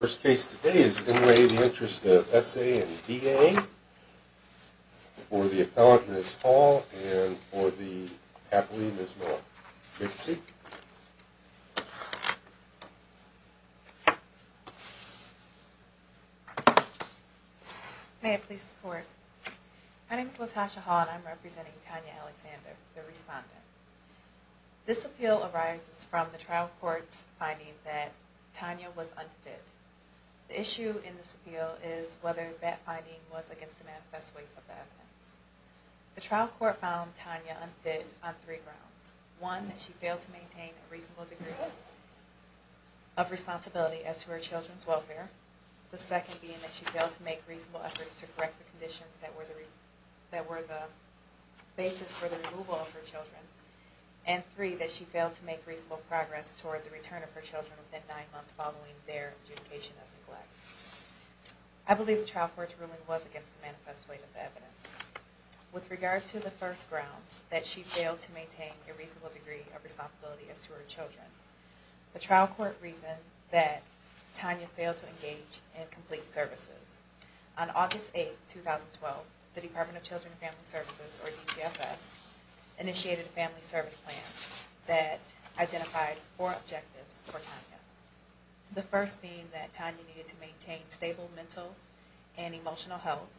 The first case today is in the interest of S.A. and D.A., for the appellant, Ms. Hall, and for the appellee, Ms. Moore. Take a seat. May I please report? My name is Latasha Hall, and I'm representing Tanya Alexander, the respondent. This appeal arises from the trial court's finding that Tanya was unfit. The issue in this appeal is whether that finding was against the manifest weight of the evidence. The trial court found Tanya unfit on three grounds. One, that she failed to maintain a reasonable degree of responsibility as to her children's welfare. The second being that she failed to make reasonable efforts to correct the conditions that were the basis for the removal of her children. And three, that she failed to make reasonable progress toward the return of her children within nine months following their adjudication of neglect. I believe the trial court's ruling was against the manifest weight of the evidence. With regard to the first grounds, that she failed to maintain a reasonable degree of responsibility as to her children, the trial court reasoned that Tanya failed to engage in complete services. On August 8, 2012, the Department of Children and Family Services, or DCFS, initiated a family service plan that identified four objectives for Tanya. The first being that Tanya needed to maintain stable mental and emotional health.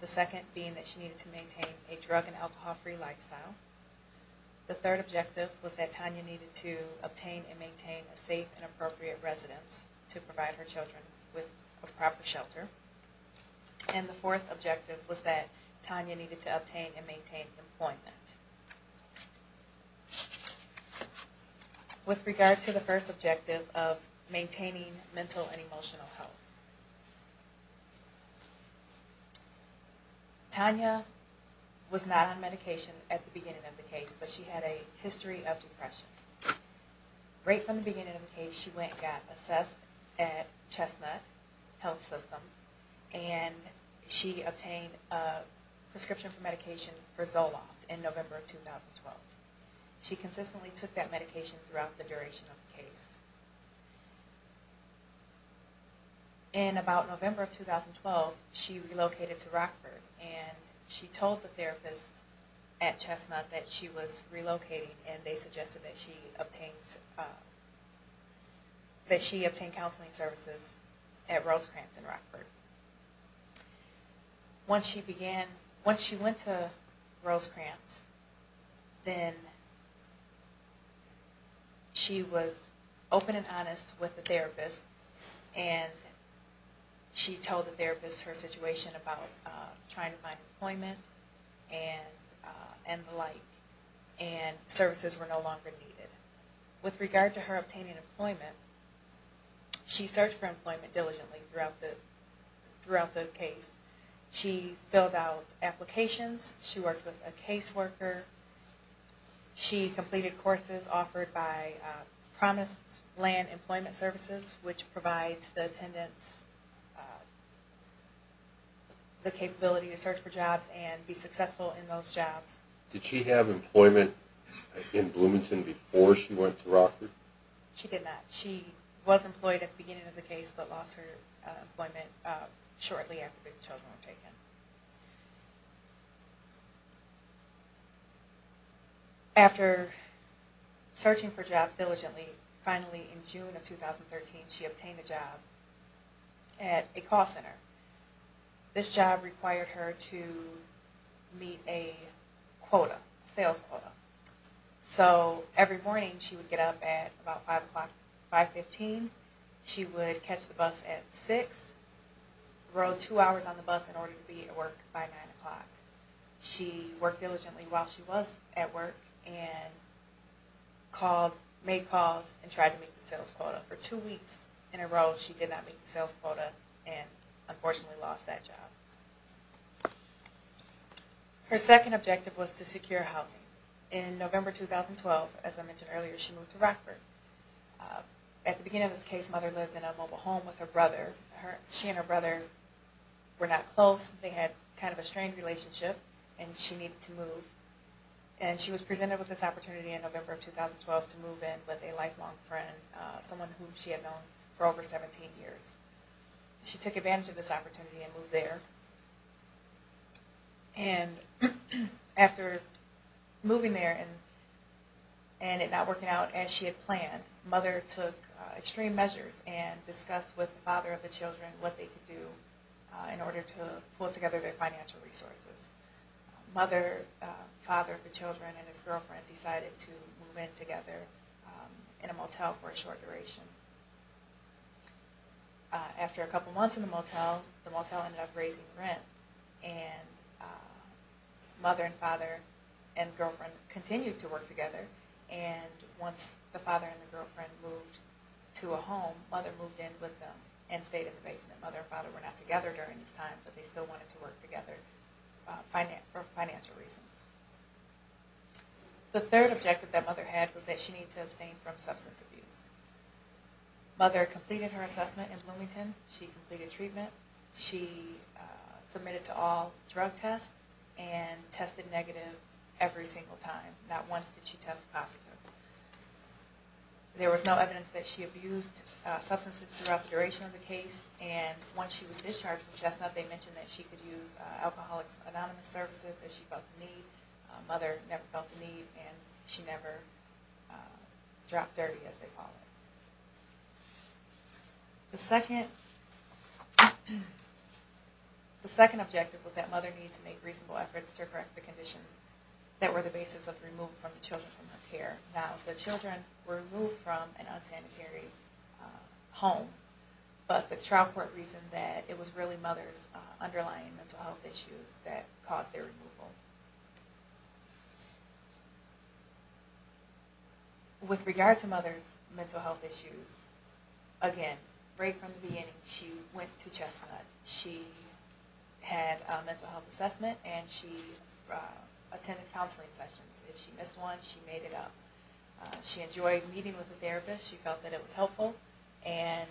The second being that she needed to maintain a drug and alcohol-free lifestyle. The third objective was that Tanya needed to obtain and maintain a safe and appropriate residence to provide her children with a proper shelter. And the fourth objective was that Tanya needed to obtain and maintain employment. With regard to the first objective of maintaining mental and emotional health, Tanya was not on medication at the beginning of the case, but she had a history of depression. Right from the beginning of the case, she got assessed at Chestnut Health System, and she obtained a prescription for medication for Zoloft in November of 2012. She consistently took that medication throughout the duration of the case. In about November of 2012, she relocated to Rockford, and she told the therapist at Chestnut that she was relocating, and they suggested that she obtain counseling services at Rosecrantz in Rockford. Once she went to Rosecrantz, then she was open and honest with the therapist, and she told the therapist her situation about trying to find employment and the like, and services were no longer needed. With regard to her obtaining employment, she searched for employment diligently throughout the case. She filled out applications. She worked with a caseworker. She completed courses offered by Promise Land Employment Services, which provides the attendance, the capability to search for jobs and be successful in those jobs. Did she have employment in Bloomington before she went to Rockford? She did not. She was employed at the beginning of the case, but lost her employment shortly after the children were taken. After searching for jobs diligently, finally in June of 2013, she obtained a job at a call center. This job required her to meet a quota, sales quota. So every morning she would get up at about 5 o'clock, 5.15. She would catch the bus at 6, road two hours on the bus in order to be at work by 9 o'clock. She worked diligently while she was at work and called, made calls, and tried to meet the sales quota. For two weeks in a row she did not meet the sales quota and unfortunately lost that job. Her second objective was to secure housing. In November 2012, as I mentioned earlier, she moved to Rockford. At the beginning of this case, mother lived in a mobile home with her brother. She and her brother were not close. They had kind of a strained relationship and she needed to move. And she was presented with this opportunity in November of 2012 to move in with a lifelong friend, someone who she had known for over 17 years. She took advantage of this opportunity and moved there. And after moving there and it not working out as she had planned, mother took extreme measures and discussed with the father of the children what they could do in order to pull together their financial resources. Mother, father of the children, and his girlfriend decided to move in together in a motel for a short duration. After a couple months in the motel, the motel ended up raising rent. And mother and father and girlfriend continued to work together. And once the father and the girlfriend moved to a home, mother moved in with them and stayed in the basement. The mother and father were not together during this time, but they still wanted to work together for financial reasons. The third objective that mother had was that she needed to abstain from substance abuse. Mother completed her assessment in Bloomington. She completed treatment. She submitted to all drug tests and tested negative every single time. Not once did she test positive. There was no evidence that she abused substances throughout the duration of the case. And once she was discharged from Chestnut, they mentioned that she could use Alcoholics Anonymous Services if she felt the need. Mother never felt the need and she never dropped dirty, as they call it. The second objective was that mother needed to make reasonable efforts to correct the conditions that were the basis of the removal of the children from her care. Now, the children were removed from an unsanitary home, but the trial court reasoned that it was really mother's underlying mental health issues that caused their removal. With regard to mother's mental health issues, again, right from the beginning, she went to Chestnut. She had a mental health assessment and she attended counseling sessions. If she missed one, she made it up. She enjoyed meeting with the therapist. She felt that it was helpful. And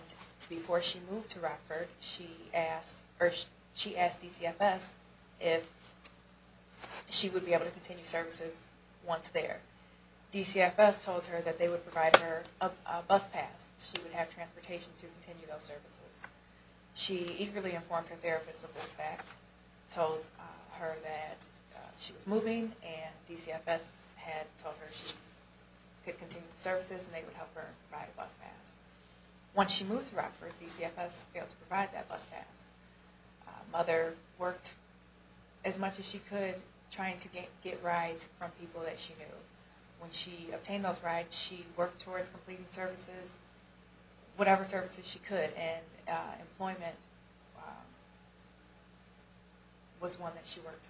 before she moved to Rockford, she asked DCFS if she would be able to continue services once there. DCFS told her that they would provide her a bus pass. She would have transportation to continue those services. She eagerly informed her therapist of this fact, told her that she was moving, and DCFS had told her she could continue the services and they would help her provide a bus pass. Once she moved to Rockford, DCFS failed to provide that bus pass. Mother worked as much as she could trying to get rides from people that she knew. When she obtained those rides, she worked towards completing services, whatever services she could, and employment was one that she worked towards.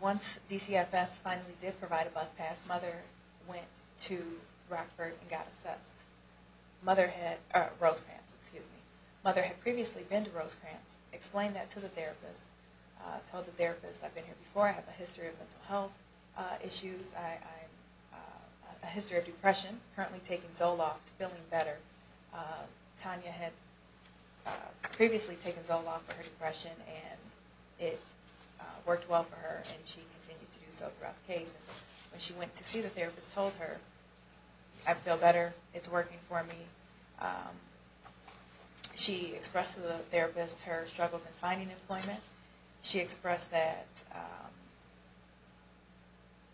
Once DCFS finally did provide a bus pass, mother went to Rockford and got assessed. Rosecrans, excuse me. Mother had previously been to Rosecrans, explained that to the therapist, told the therapist, I've been here before, I have a history of mental health issues, a history of depression, currently taking Zoloft, feeling better. Tanya had previously taken Zoloft for her depression and it worked well for her and she continued to do so throughout the case. When she went to see the therapist, told her, I feel better, it's working for me. She expressed to the therapist her struggles in finding employment. She expressed that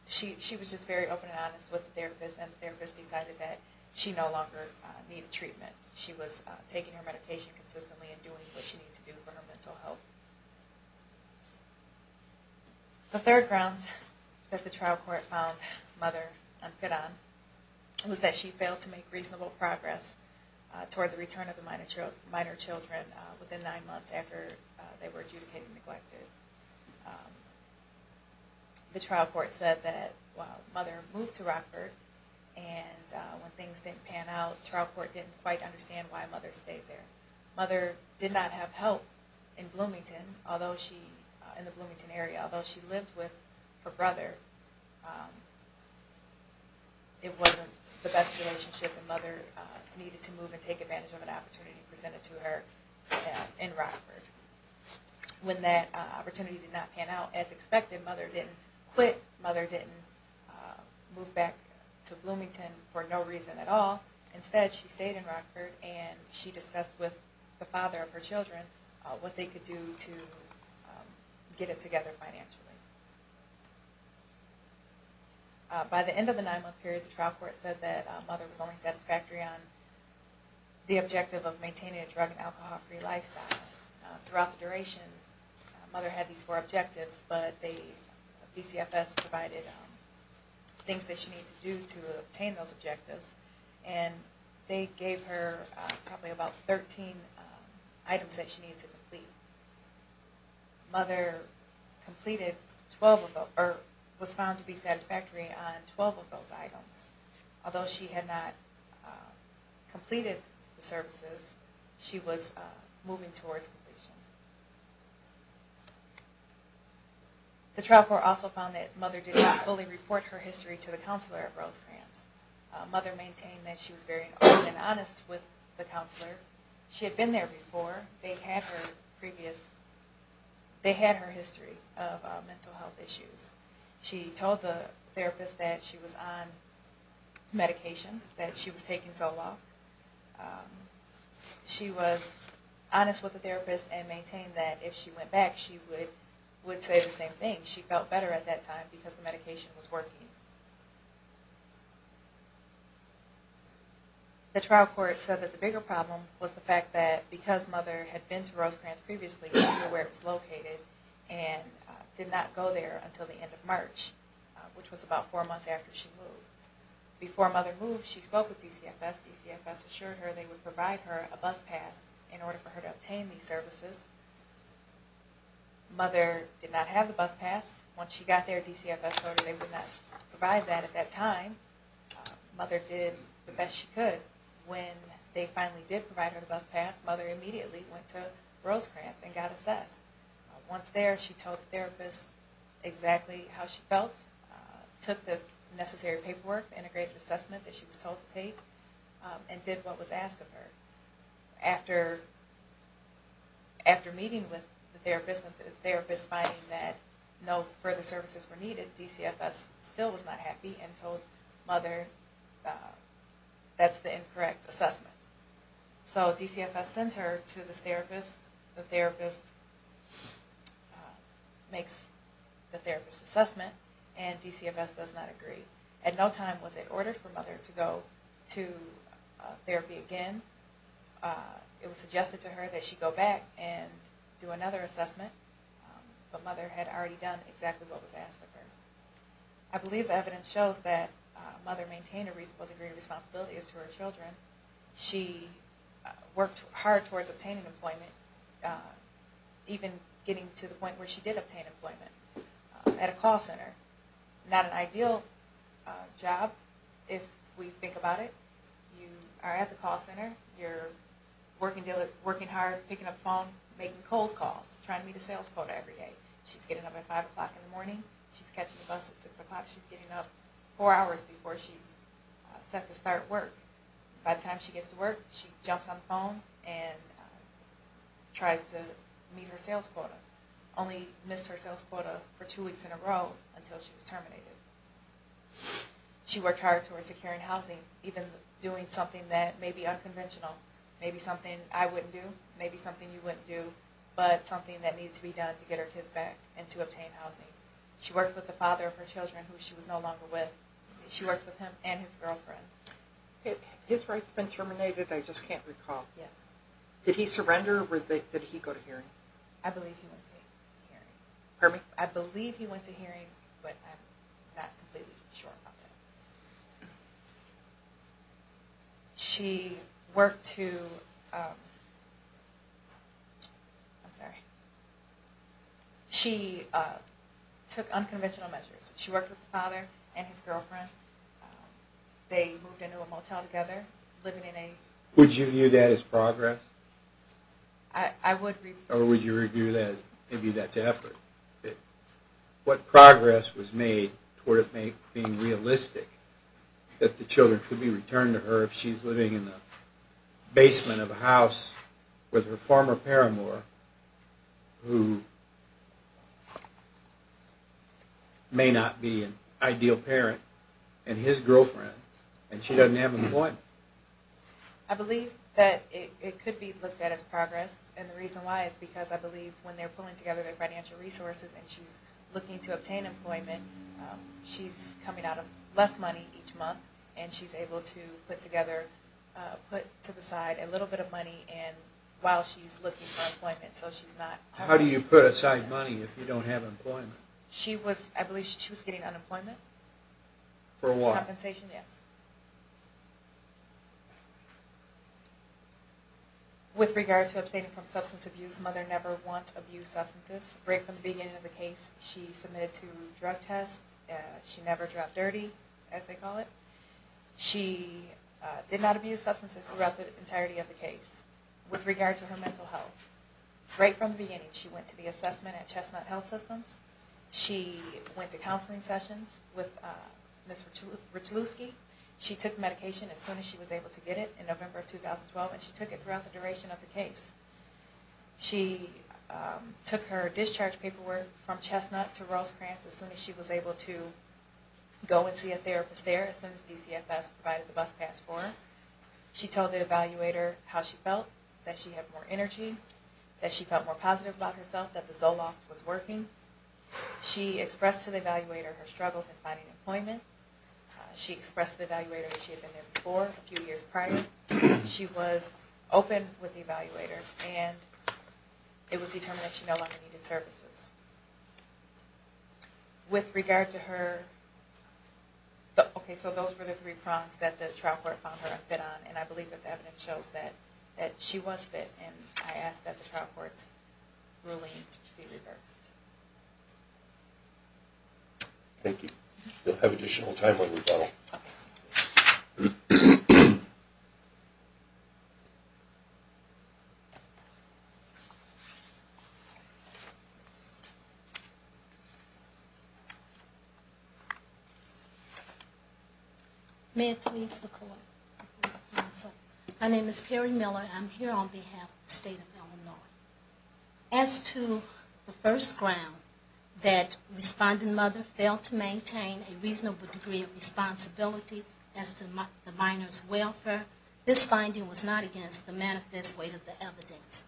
she was just very open and honest with the therapist and the therapist decided that she no longer needed treatment. She was taking her medication consistently and doing what she needed to do for her mental health. The third grounds that the trial court found mother unfit on was that she failed to make reasonable progress toward the return of the minor children within nine months after they were adjudicated and neglected. The trial court said that while mother moved to Rockford and when things didn't pan out, trial court didn't quite understand why mother stayed there. Mother did not have help in Bloomington, in the Bloomington area, and although she lived with her brother, it wasn't the best relationship and mother needed to move and take advantage of an opportunity presented to her in Rockford. When that opportunity did not pan out as expected, mother didn't quit. Mother didn't move back to Bloomington for no reason at all. Instead, she stayed in Rockford and she discussed with the father of her children what they could do to get it together financially. By the end of the nine month period, the trial court said that mother was only satisfactory on the objective of maintaining a drug and alcohol free lifestyle. Throughout the duration, mother had these four objectives, but the DCFS provided things that she needed to do to obtain those objectives and they gave her probably about 13 items that she needed to complete. Mother was found to be satisfactory on 12 of those items. Although she had not completed the services, she was moving towards completion. The trial court also found that mother did not fully report her history to the counselor at Rosecrans. Mother maintained that she was very open and honest with the counselor. She had been there before. They had her history of mental health issues. She told the therapist that she was on medication, that she was taking Zoloft. She was honest with the therapist and maintained that if she went back, she would say the same thing. She felt better at that time because the medication was working. The trial court said that the bigger problem was the fact that because mother had been to Rosecrans previously, she knew where it was located and did not go there until the end of March, which was about four months after she moved. Before mother moved, she spoke with DCFS. DCFS assured her they would provide her a bus pass in order for her to obtain these services. Mother did not have the bus pass. Once she got there, DCFS told her they would not provide that at that time. Mother did the best she could. When they finally did provide her the bus pass, mother immediately went to Rosecrans and got assessed. Once there, she told the therapist exactly how she felt, took the necessary paperwork, integrated assessment that she was told to take, and did what was asked of her. After meeting with the therapist and the therapist finding that no further services were needed, DCFS still was not happy and told mother that's the incorrect assessment. So DCFS sent her to the therapist. The therapist makes the therapist's assessment, and DCFS does not agree. At no time was it ordered for mother to go to therapy again. It was suggested to her that she go back and do another assessment, but mother had already done exactly what was asked of her. I believe the evidence shows that mother maintained a reasonable degree of responsibility as to her children. She worked hard towards obtaining employment, even getting to the point where she did obtain employment at a call center. Not an ideal job, if we think about it. You are at the call center. You're working hard, picking up the phone, making cold calls, trying to meet a sales quota every day. She's getting up at 5 o'clock in the morning. She's catching the bus at 6 o'clock. She's getting up four hours before she's set to start work. By the time she gets to work, she jumps on the phone and tries to meet her sales quota. Only missed her sales quota for two weeks in a row until she was terminated. She worked hard towards securing housing, even doing something that may be unconventional. Maybe something I wouldn't do, maybe something you wouldn't do, but something that needed to be done to get her kids back and to obtain housing. She worked with the father of her children, who she was no longer with. She worked with him and his girlfriend. His rights been terminated, I just can't recall. Yes. Did he surrender, or did he go to hearing? I believe he went to hearing. Pardon me? I believe he went to hearing, but I'm not completely sure about that. She worked to, um, I'm sorry. She took unconventional measures. She worked with the father and his girlfriend. They moved into a motel together, living in a... Would you view that as progress? I would review that. Or would you review that, maybe that's effort? What progress was made toward it being realistic, that the children could be returned to her if she's living in the basement of a house with her former paramour, who may not be an ideal parent, and his girlfriend, and she doesn't have an appointment. I believe that it could be looked at as progress, and the reason why is because I believe when they're pulling together their financial resources and she's looking to obtain employment, she's coming out of less money each month, and she's able to put together, put to the side a little bit of money while she's looking for employment, so she's not... How do you put aside money if you don't have employment? I believe she was getting unemployment. For what? Compensation, yes. Okay. With regard to abstaining from substance abuse, mother never once abused substances. Right from the beginning of the case, she submitted to drug tests. She never dropped dirty, as they call it. She did not abuse substances throughout the entirety of the case. With regard to her mental health, right from the beginning, she went to the assessment at Chestnut Health Systems. She went to counseling sessions with Ms. Richelewski. She took medication as soon as she was able to get it in November of 2012, and she took it throughout the duration of the case. She took her discharge paperwork from Chestnut to Rosecrans as soon as she was able to go and see a therapist there, as soon as DCFS provided the bus pass for her. She told the evaluator how she felt, that she had more energy, that she felt more positive about herself, that the Zoloft was working. She expressed to the evaluator her struggles in finding employment. She expressed to the evaluator that she had been there before, a few years prior. She was open with the evaluator, and it was determined that she no longer needed services. With regard to her, okay, so those were the three problems that the trial court found her unfit on, and I believe that the evidence shows that she was fit, and I ask that the trial court's ruling be reversed. Thank you. We'll have additional time on rebuttal. May I please look over? My name is Perry Miller. I'm here on behalf of the State of Illinois. As to the first ground, that Respondent Mother failed to maintain a reasonable degree of responsibility as to the minor's welfare, this finding was not against the manifest weight of the evidence.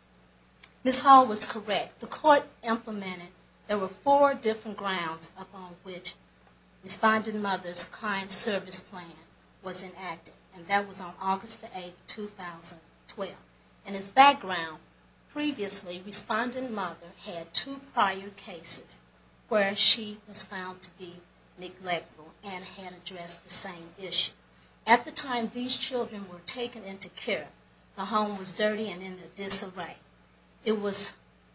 Ms. Hall was correct. The court implemented, there were four different grounds upon which Respondent Mother's client service plan was inactive, and that was on August 8, 2012. In its background, previously, Respondent Mother had two prior cases where she was found to be neglectful and had addressed the same issue. At the time these children were taken into care, the home was dirty and in a disarray. It was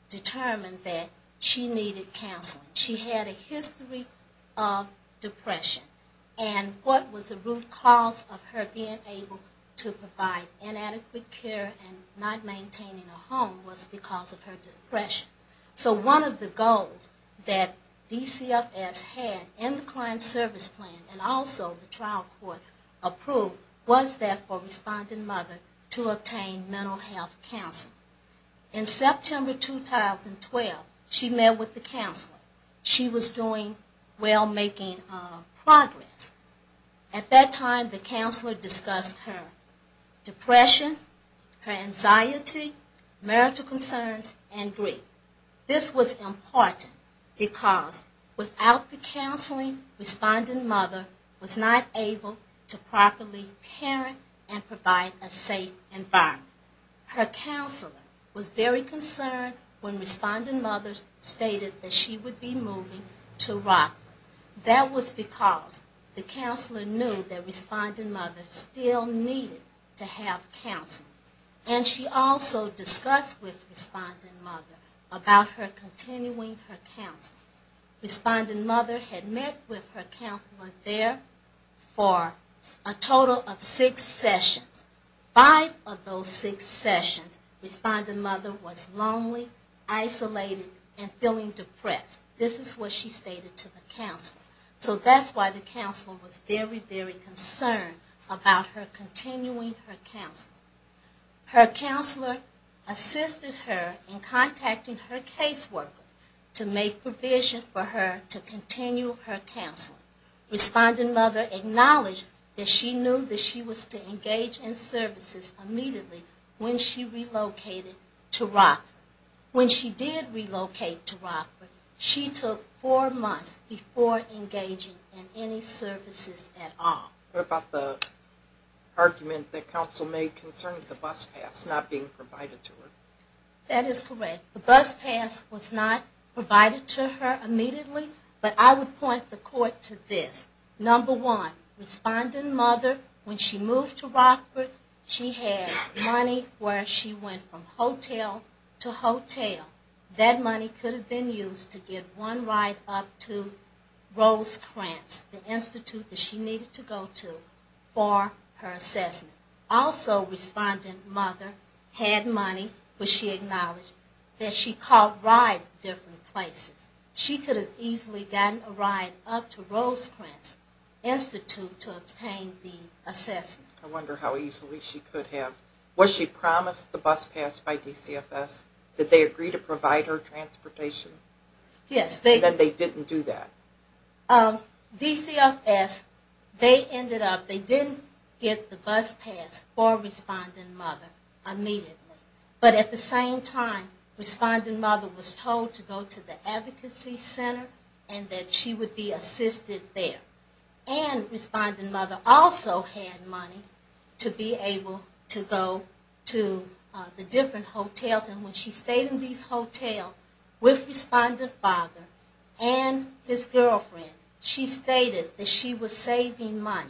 determined that she needed counseling. She had a history of depression, and what was the root cause of her being able to provide inadequate care and not maintaining a home was because of her depression. So one of the goals that DCFS had in the client service plan and also the trial court approved was that for Respondent Mother to obtain mental health counseling. In September 2012, she met with the counselor. She was doing well, making progress. At that time, the counselor discussed her depression, her anxiety, marital concerns, and grief. This was important because without the counseling, Respondent Mother was not able to properly parent and provide a safe environment. Her counselor was very concerned when Respondent Mother stated that she would be moving to Rockland. That was because the counselor knew that Respondent Mother still needed to have counseling. And she also discussed with Respondent Mother about her continuing her counseling. Respondent Mother had met with her counselor there for a total of six sessions. Five of those six sessions, Respondent Mother was lonely, isolated, and feeling depressed. This is what she stated to the counselor. So that's why the counselor was very, very concerned about her continuing her counseling. Her counselor assisted her in contacting her caseworker to make provision for her to continue her counseling. Respondent Mother acknowledged that she knew that she was to engage in services immediately when she relocated to Rockland. When she did relocate to Rockland, she took four months before engaging in any services at all. What about the argument that counsel made concerning the bus pass not being provided to her? That is correct. The bus pass was not provided to her immediately, but I would point the court to this. Number one, Respondent Mother, when she moved to Rockland, she had money where she went from hotel to hotel. That money could have been used to get one ride up to Rosecrantz, the institute that she needed to go to for her assessment. Also, Respondent Mother had money, but she acknowledged that she caught rides to different places. She could have easily gotten a ride up to Rosecrantz Institute to obtain the assessment. I wonder how easily she could have. Was she promised the bus pass by DCFS? Did they agree to provide her transportation? Yes. That they didn't do that? DCFS, they ended up, they didn't get the bus pass for Respondent Mother immediately. But at the same time, Respondent Mother was told to go to the advocacy center and that she would be assisted there. And Respondent Mother also had money to be able to go to the different hotels. And when she stayed in these hotels with Respondent Father and his girlfriend, she stated that she was saving money.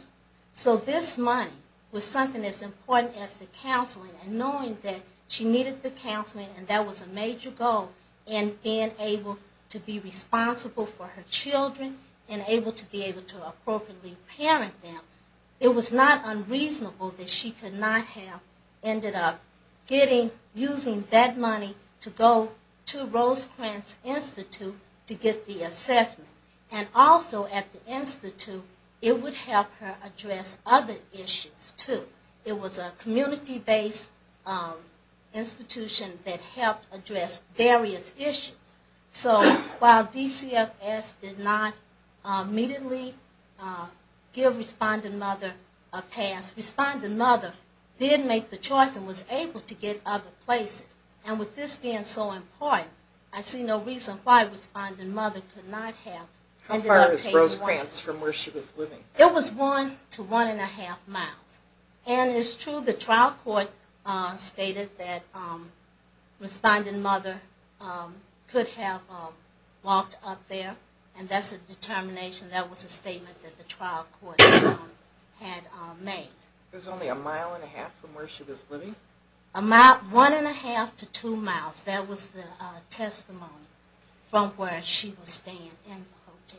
So this money was something as important as the counseling and knowing that she needed the counseling, and that was a major goal, and being able to be responsible for her children and able to be able to appropriately parent them. It was not unreasonable that she could not have ended up getting, using that money to go to Rosecrantz Institute to get the assessment. And also at the Institute, it would help her address other issues too. It was a community-based institution that helped address various issues. So while DCFS did not immediately give Respondent Mother a pass, Respondent Mother did make the choice and was able to get other places. And with this being so important, I see no reason why Respondent Mother could not have ended up taking one. How far is Rosecrantz from where she was living? It was one to one and a half miles. And it's true the trial court stated that Respondent Mother could have walked up there, and that's a determination. That was a statement that the trial court had made. It was only a mile and a half from where she was living? One and a half to two miles. That was the testimony from where she was staying in the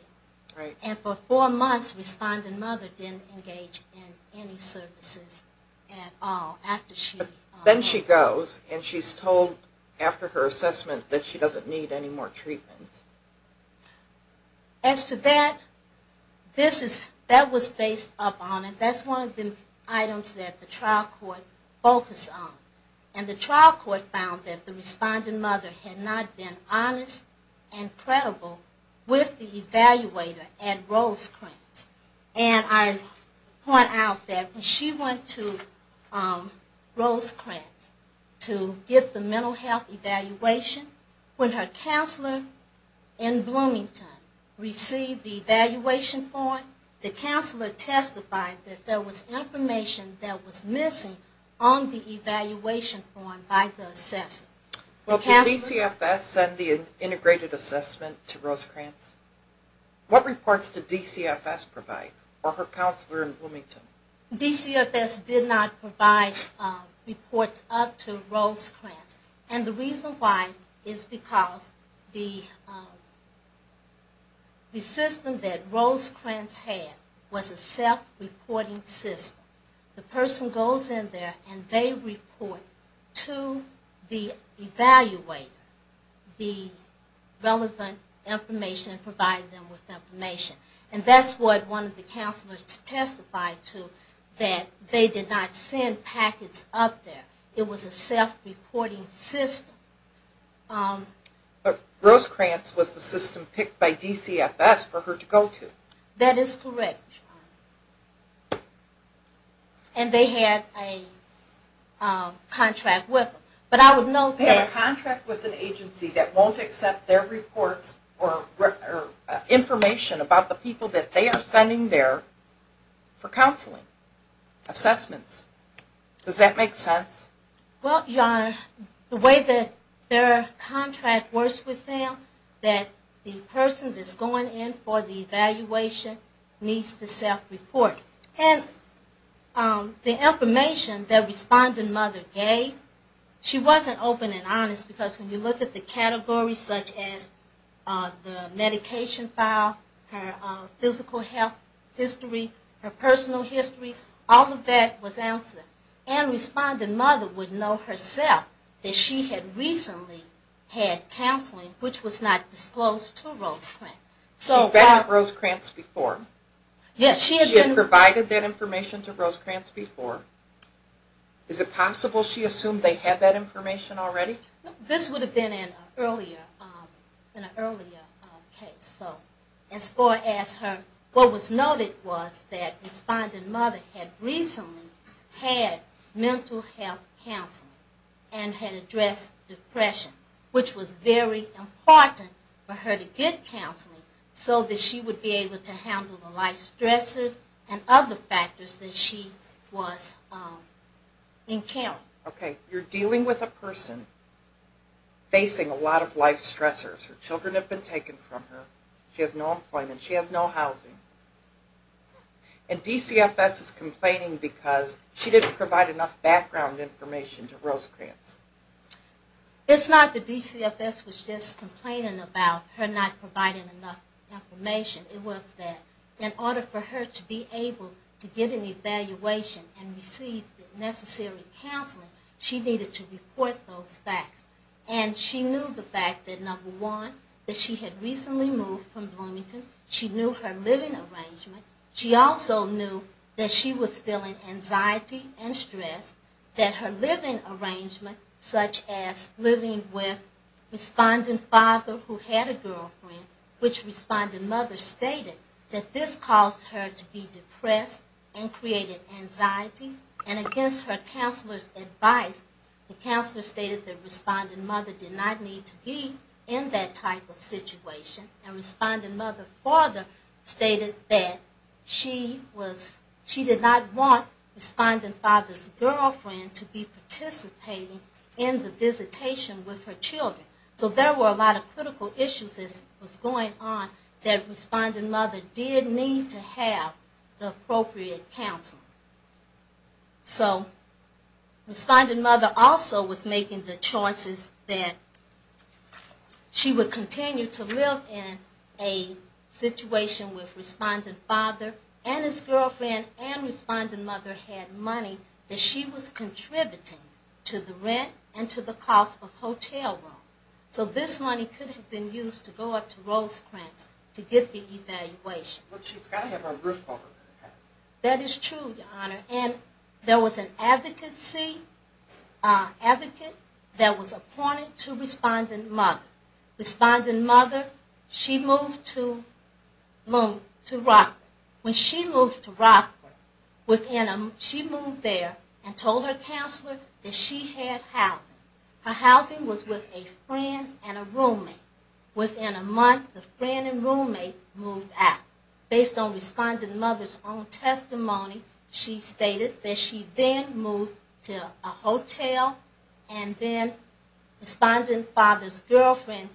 hotel. And for four months, Respondent Mother didn't engage in any services at all. Then she goes, and she's told after her assessment that she doesn't need any more treatment. As to that, that was based upon, and that's one of the items that the trial court focused on. And the trial court found that the Respondent Mother had not been honest and credible with the evaluator at Rosecrantz. And I point out that when she went to Rosecrantz to get the mental health evaluation, when her counselor in Bloomington received the evaluation form, the counselor testified that there was information that was missing on the evaluation form by the assessor. Well, did DCFS send the integrated assessment to Rosecrantz? What reports did DCFS provide, or her counselor in Bloomington? DCFS did not provide reports up to Rosecrantz. And the reason why is because the system that Rosecrantz had was a self-reporting system. The person goes in there and they report to the evaluator the relevant information and that's what one of the counselors testified to, that they did not send packets up there. It was a self-reporting system. But Rosecrantz was the system picked by DCFS for her to go to. That is correct. And they had a contract with them. They have a contract with an agency that won't accept their reports or information about the people that they are sending there for counseling. Assessments. Does that make sense? Well, Your Honor, the way that their contract works with them, that the person that's going in for the evaluation needs to self-report. And the information that Respondent Mother gave, she wasn't open and honest because when you look at the categories such as the medication file, her physical health history, her personal history, all of that was answered. And Respondent Mother would know herself that she had recently had counseling which was not disclosed to Rosecrantz. She had been at Rosecrantz before. She had provided that information to Rosecrantz before. Is it possible she assumed they had that information already? This would have been in an earlier case. What was noted was that Respondent Mother had recently had mental health counseling and had addressed depression, which was very important for her to get counseling so that she would be able to handle the life stressors and other factors that she was encountering. Okay. You're dealing with a person facing a lot of life stressors. Her children have been taken from her. She has no employment. She has no housing. And DCFS is complaining because she didn't provide enough background information to Rosecrantz. It's not that DCFS was just complaining about her not providing enough information. It was that in order for her to be able to get an evaluation and receive the necessary counseling, she needed to report those facts. And she knew the fact that, number one, that she had recently moved from Bloomington. She knew her living arrangement. She also knew that she was feeling anxiety and stress. That her living arrangement, such as living with Respondent Father who had a girlfriend, which Respondent Mother stated, that this caused her to be depressed and created anxiety. And against her counselor's advice, the counselor stated that Respondent Mother did not need to be in that type of situation. And Respondent Mother further stated that she did not want Respondent Father's girlfriend to be participating in the visitation with her children. So there were a lot of critical issues that was going on that Respondent Mother did need to have the appropriate counsel. So Respondent Mother also was making the choices that she would continue to live in a situation where Respondent Father and his girlfriend and Respondent Mother had money that she was contributing to the rent and to the cost of hotel room. So this money could have been used to go up to Rosecrans to get the evaluation. That is true, Your Honor. And there was an advocate that was appointed to Respondent Mother. Respondent Mother, she moved to Rockwood. When she moved to Rockwood, she moved there and told her counselor that she had housing. Her housing was with a friend and a roommate. Within a month, the friend and roommate moved out. Based on Respondent Mother's own testimony, she stated that she then moved to a hotel and then Respondent Father's girlfriend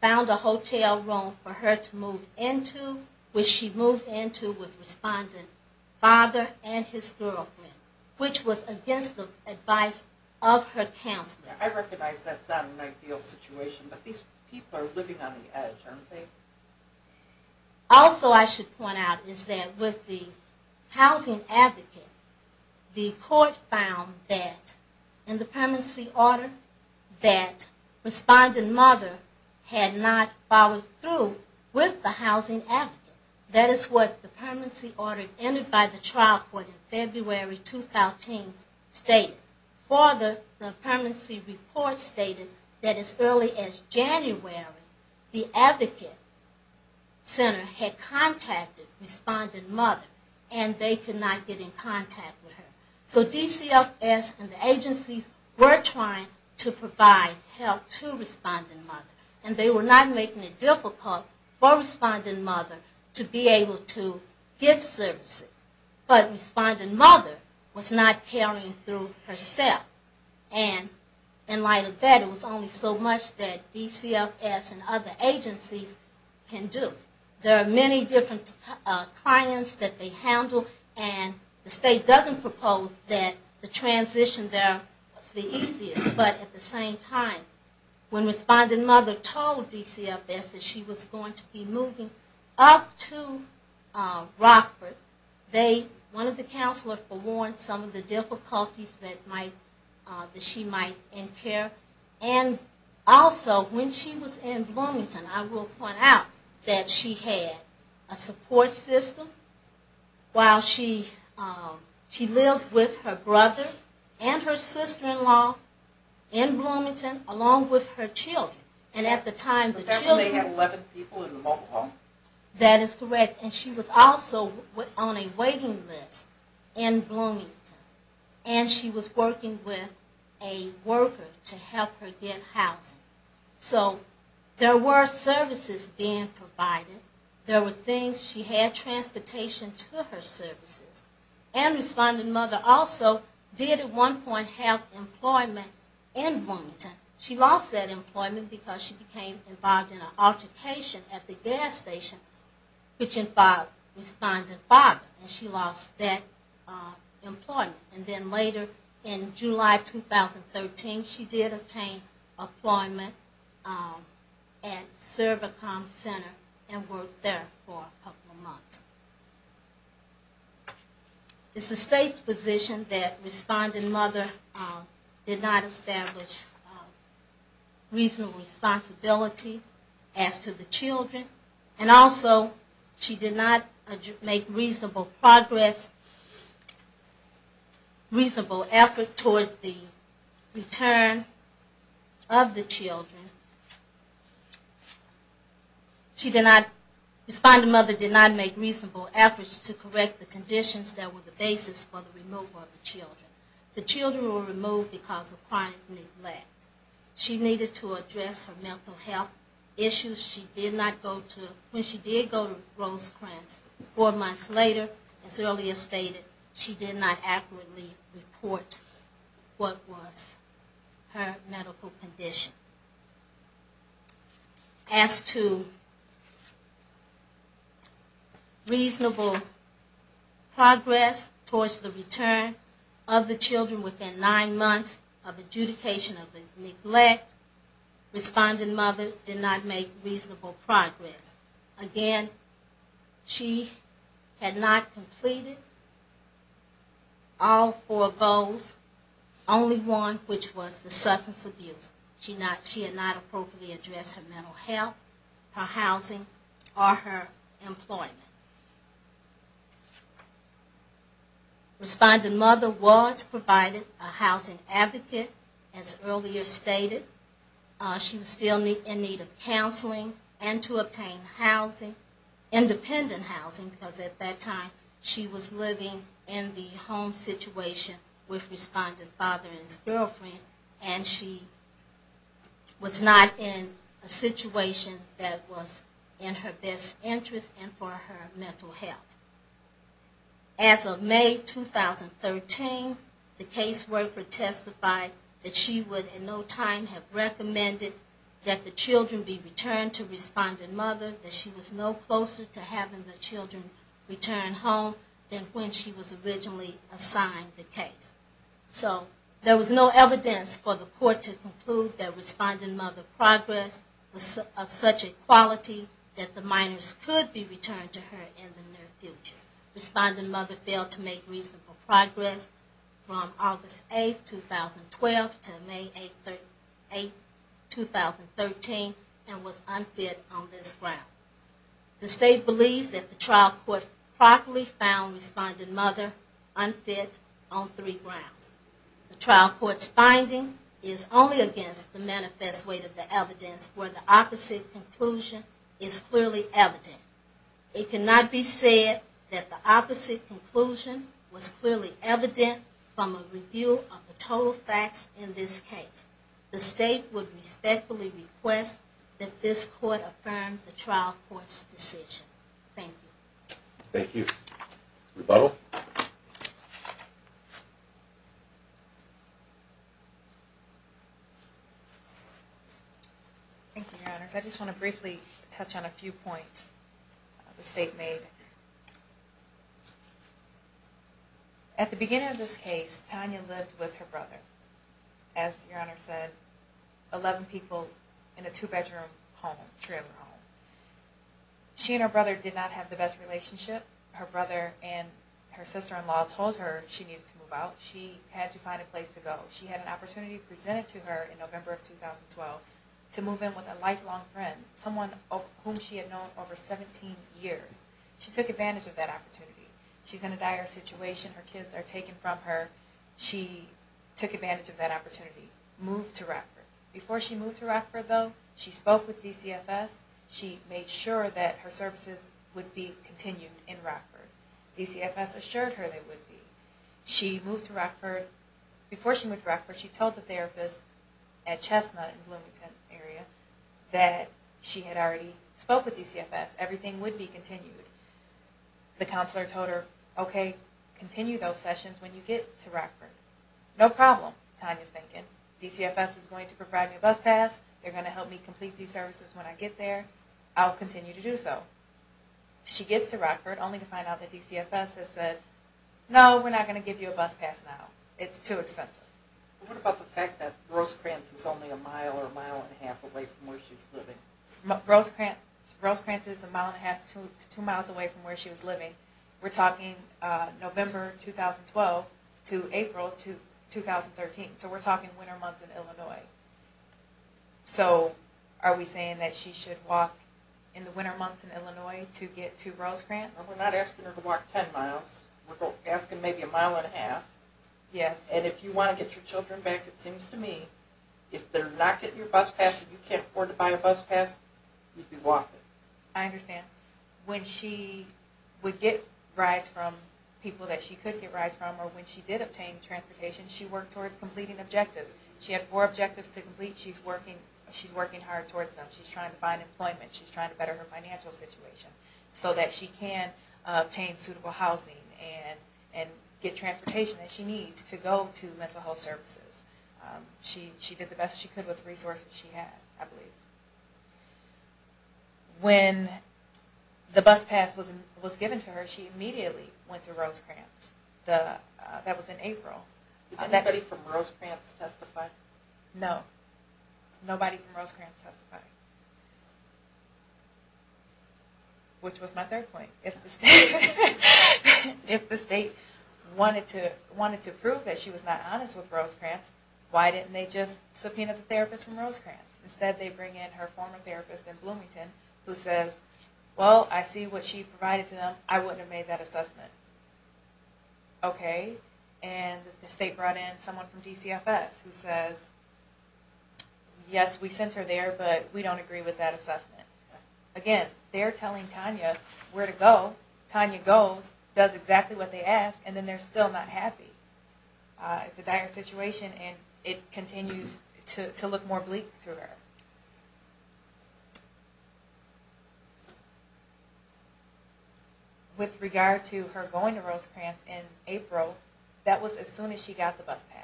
found a hotel room for her to move into, which she moved into with Respondent Father and his girlfriend, which was against the advice of her counselor. Also I should point out is that with the housing advocate, the court found that in the permanency order that Respondent Mother had not followed through with the housing advocate. That is what the permanency order entered by the trial court in February 2014 stated. Further, the permanency report stated that as early as January, the advocate center had contacted Respondent Mother and they could not get in contact with her. So DCFS and the agencies were trying to provide help to Respondent Mother. And they were not making it difficult for Respondent Mother to be able to get services. But Respondent Mother was not carrying through herself. And in light of that, it was only so much that DCFS and other agencies can do. There are many different clients that they handle and the state doesn't propose that the transition there was the easiest. But at the same time, when Respondent Mother told DCFS that she was going to be moving up to Rockford, one of the counselors warned some of the difficulties that she might incur. And also when she was in Bloomington, I will point out that she had a support system while she was in Bloomington along with her children. That is correct. And she was also on a waiting list in Bloomington. And she was working with a worker to help her get housing. So there were services being provided. There were things. She had transportation to her services. And Respondent Mother also did at one point have employment in Bloomington. She lost that employment because she became involved in an altercation at the gas station, which involved Respondent Father. And she lost that employment. And then later in July 2013, she did obtain employment at Cervicom Center and worked there for a couple of months. It's the state's position that Respondent Mother did not establish reasonable responsibility as to the children. And also she did not make reasonable progress, reasonable effort toward the return of the children. Respondent Mother did not make reasonable efforts to correct the conditions that were the basis for the removal of the children. The children were removed because of crime and neglect. She needed to address her mental health issues. She did not go to, when she did go to Rosecrans four months later, as earlier stated, she did not accurately report what was her medical condition. As to reasonable progress towards the return of the children within nine months of adjudication of the neglect, Respondent Mother did not make reasonable progress. Again, she had not completed all four goals, only one, which was the substance abuse. She had not appropriately addressed her mental health, her housing, or her employment. Respondent Mother was provided a housing advocate, as earlier stated, to maintain housing, independent housing, because at that time she was living in the home situation with Respondent Father and his girlfriend, and she was not in a situation that was in her best interest and for her mental health. As of May 2013, the caseworker testified that she would in no time have recommended that the children be returned to Respondent Mother, that she was no closer to having the children return home than when she was originally assigned the case. So there was no evidence for the court to conclude that Respondent Mother's progress was of such a quality that the minors could be returned to her in the near future. Respondent Mother failed to make reasonable progress from August 8, 2012 to May 8, 2013, and was unfit on this ground. The State believes that the trial court properly found Respondent Mother unfit on three grounds. The trial court's finding is only against the manifest weight of the evidence, where the opposite conclusion is clearly evident. It cannot be said that the opposite conclusion was clearly evident from a review of the total facts in this case. The State would respectfully request that this court affirm the trial court's decision. Thank you. Thank you. Rebuttal. Thank you, Your Honors. I just want to briefly touch on a few points the State made. At the beginning of this case, Tanya lived with her brother, as Your Honor said, 11 people in a two-bedroom home, trailer home. She and her brother did not have the best relationship. Her brother and her sister-in-law told her she needed to move out. She had to move to Rockford. Before she moved to Rockford, though, she spoke with DCFS. She made sure that her services would be continued in Rockford. DCFS assured her they would be. She moved to Rockford. Before she moved to Rockford, she told the therapist at Chesna in the Bloomington area that she had already spoke with DCFS. Everything would be continued. The counselor told her, okay, continue those sessions when you get to Rockford. No problem, Tanya's thinking. DCFS is going to provide me a bus pass. They're going to help me complete these services when I get there. I'll continue to do so. She gets to Rockford, only to find out that DCFS has said, no, we're not going to give you a bus pass now. It's too expensive. What about the fact that Rosecrans is only a mile or a mile and a half away from where she's living? Rosecrans is a mile and a half to two miles away from where she was living. We're talking November 2012 to April 2013. So we're talking winter months in Illinois. So are we saying that she should walk in the winter months in Illinois to get to Rosecrans? We're not asking her to walk ten miles. We're asking maybe a mile and a half. And if you want to get your children back, it seems to me, if they're not getting your bus pass, and you can't afford to buy a bus pass, you can walk it. I understand. When she would get rides from people that she could get rides from, or when she did obtain transportation, she worked towards completing objectives. She had four objectives to complete. She's working hard towards them. She's trying to find employment. She's trying to better her financial situation so that she can obtain suitable housing and get transportation that she needs to go to mental health services. She did the best she could with the resources she had, I believe. When the bus pass was given to her, she immediately went to Rosecrans. That was in April. Did anybody from Rosecrans testify? No. Nobody from Rosecrans testified. Which was my third point. If the state wanted to prove that she was not honest with Rosecrans, why didn't they just subpoena the therapist from Rosecrans? Instead they bring in her former therapist in Bloomington who says, well, I see what she provided to them. I wouldn't have made that assessment. Okay. And the state brought in someone from DCFS who says, yes, we sent her there, but we don't agree with that assessment. Again, they're telling Tanya where to go. Tanya goes, does exactly what they asked, and then they're still not happy. It's a dire situation and it continues to look more bleak to her. With regard to her going to Rosecrans in April, that was as soon as she got the bus pass.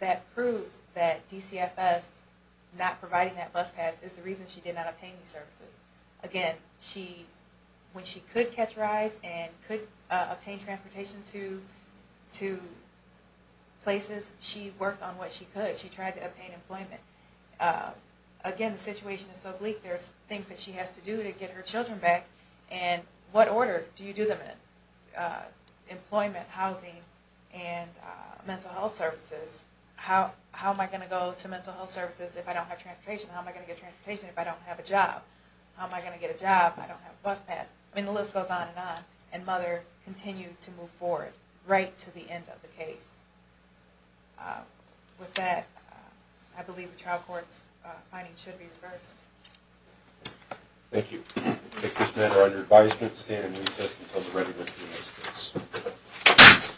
That proves that DCFS not providing that bus pass is the reason she did not obtain these services. Again, when she could catch rides and could go to places, she worked on what she could. She tried to obtain employment. Again, the situation is so bleak, there's things that she has to do to get her children back. And what order do you do them in? Employment, housing, and mental health services. How am I going to go to mental health services if I don't have transportation? How am I going to get transportation if I don't have a job? How am I going to get a job if I don't have a bus pass? The list goes on and on, and Mother continued to move forward right to the end of the case. With that, I believe the trial court's findings should be reversed. Thank you. We take this matter under advisement and stand in recess until the readiness of the next case.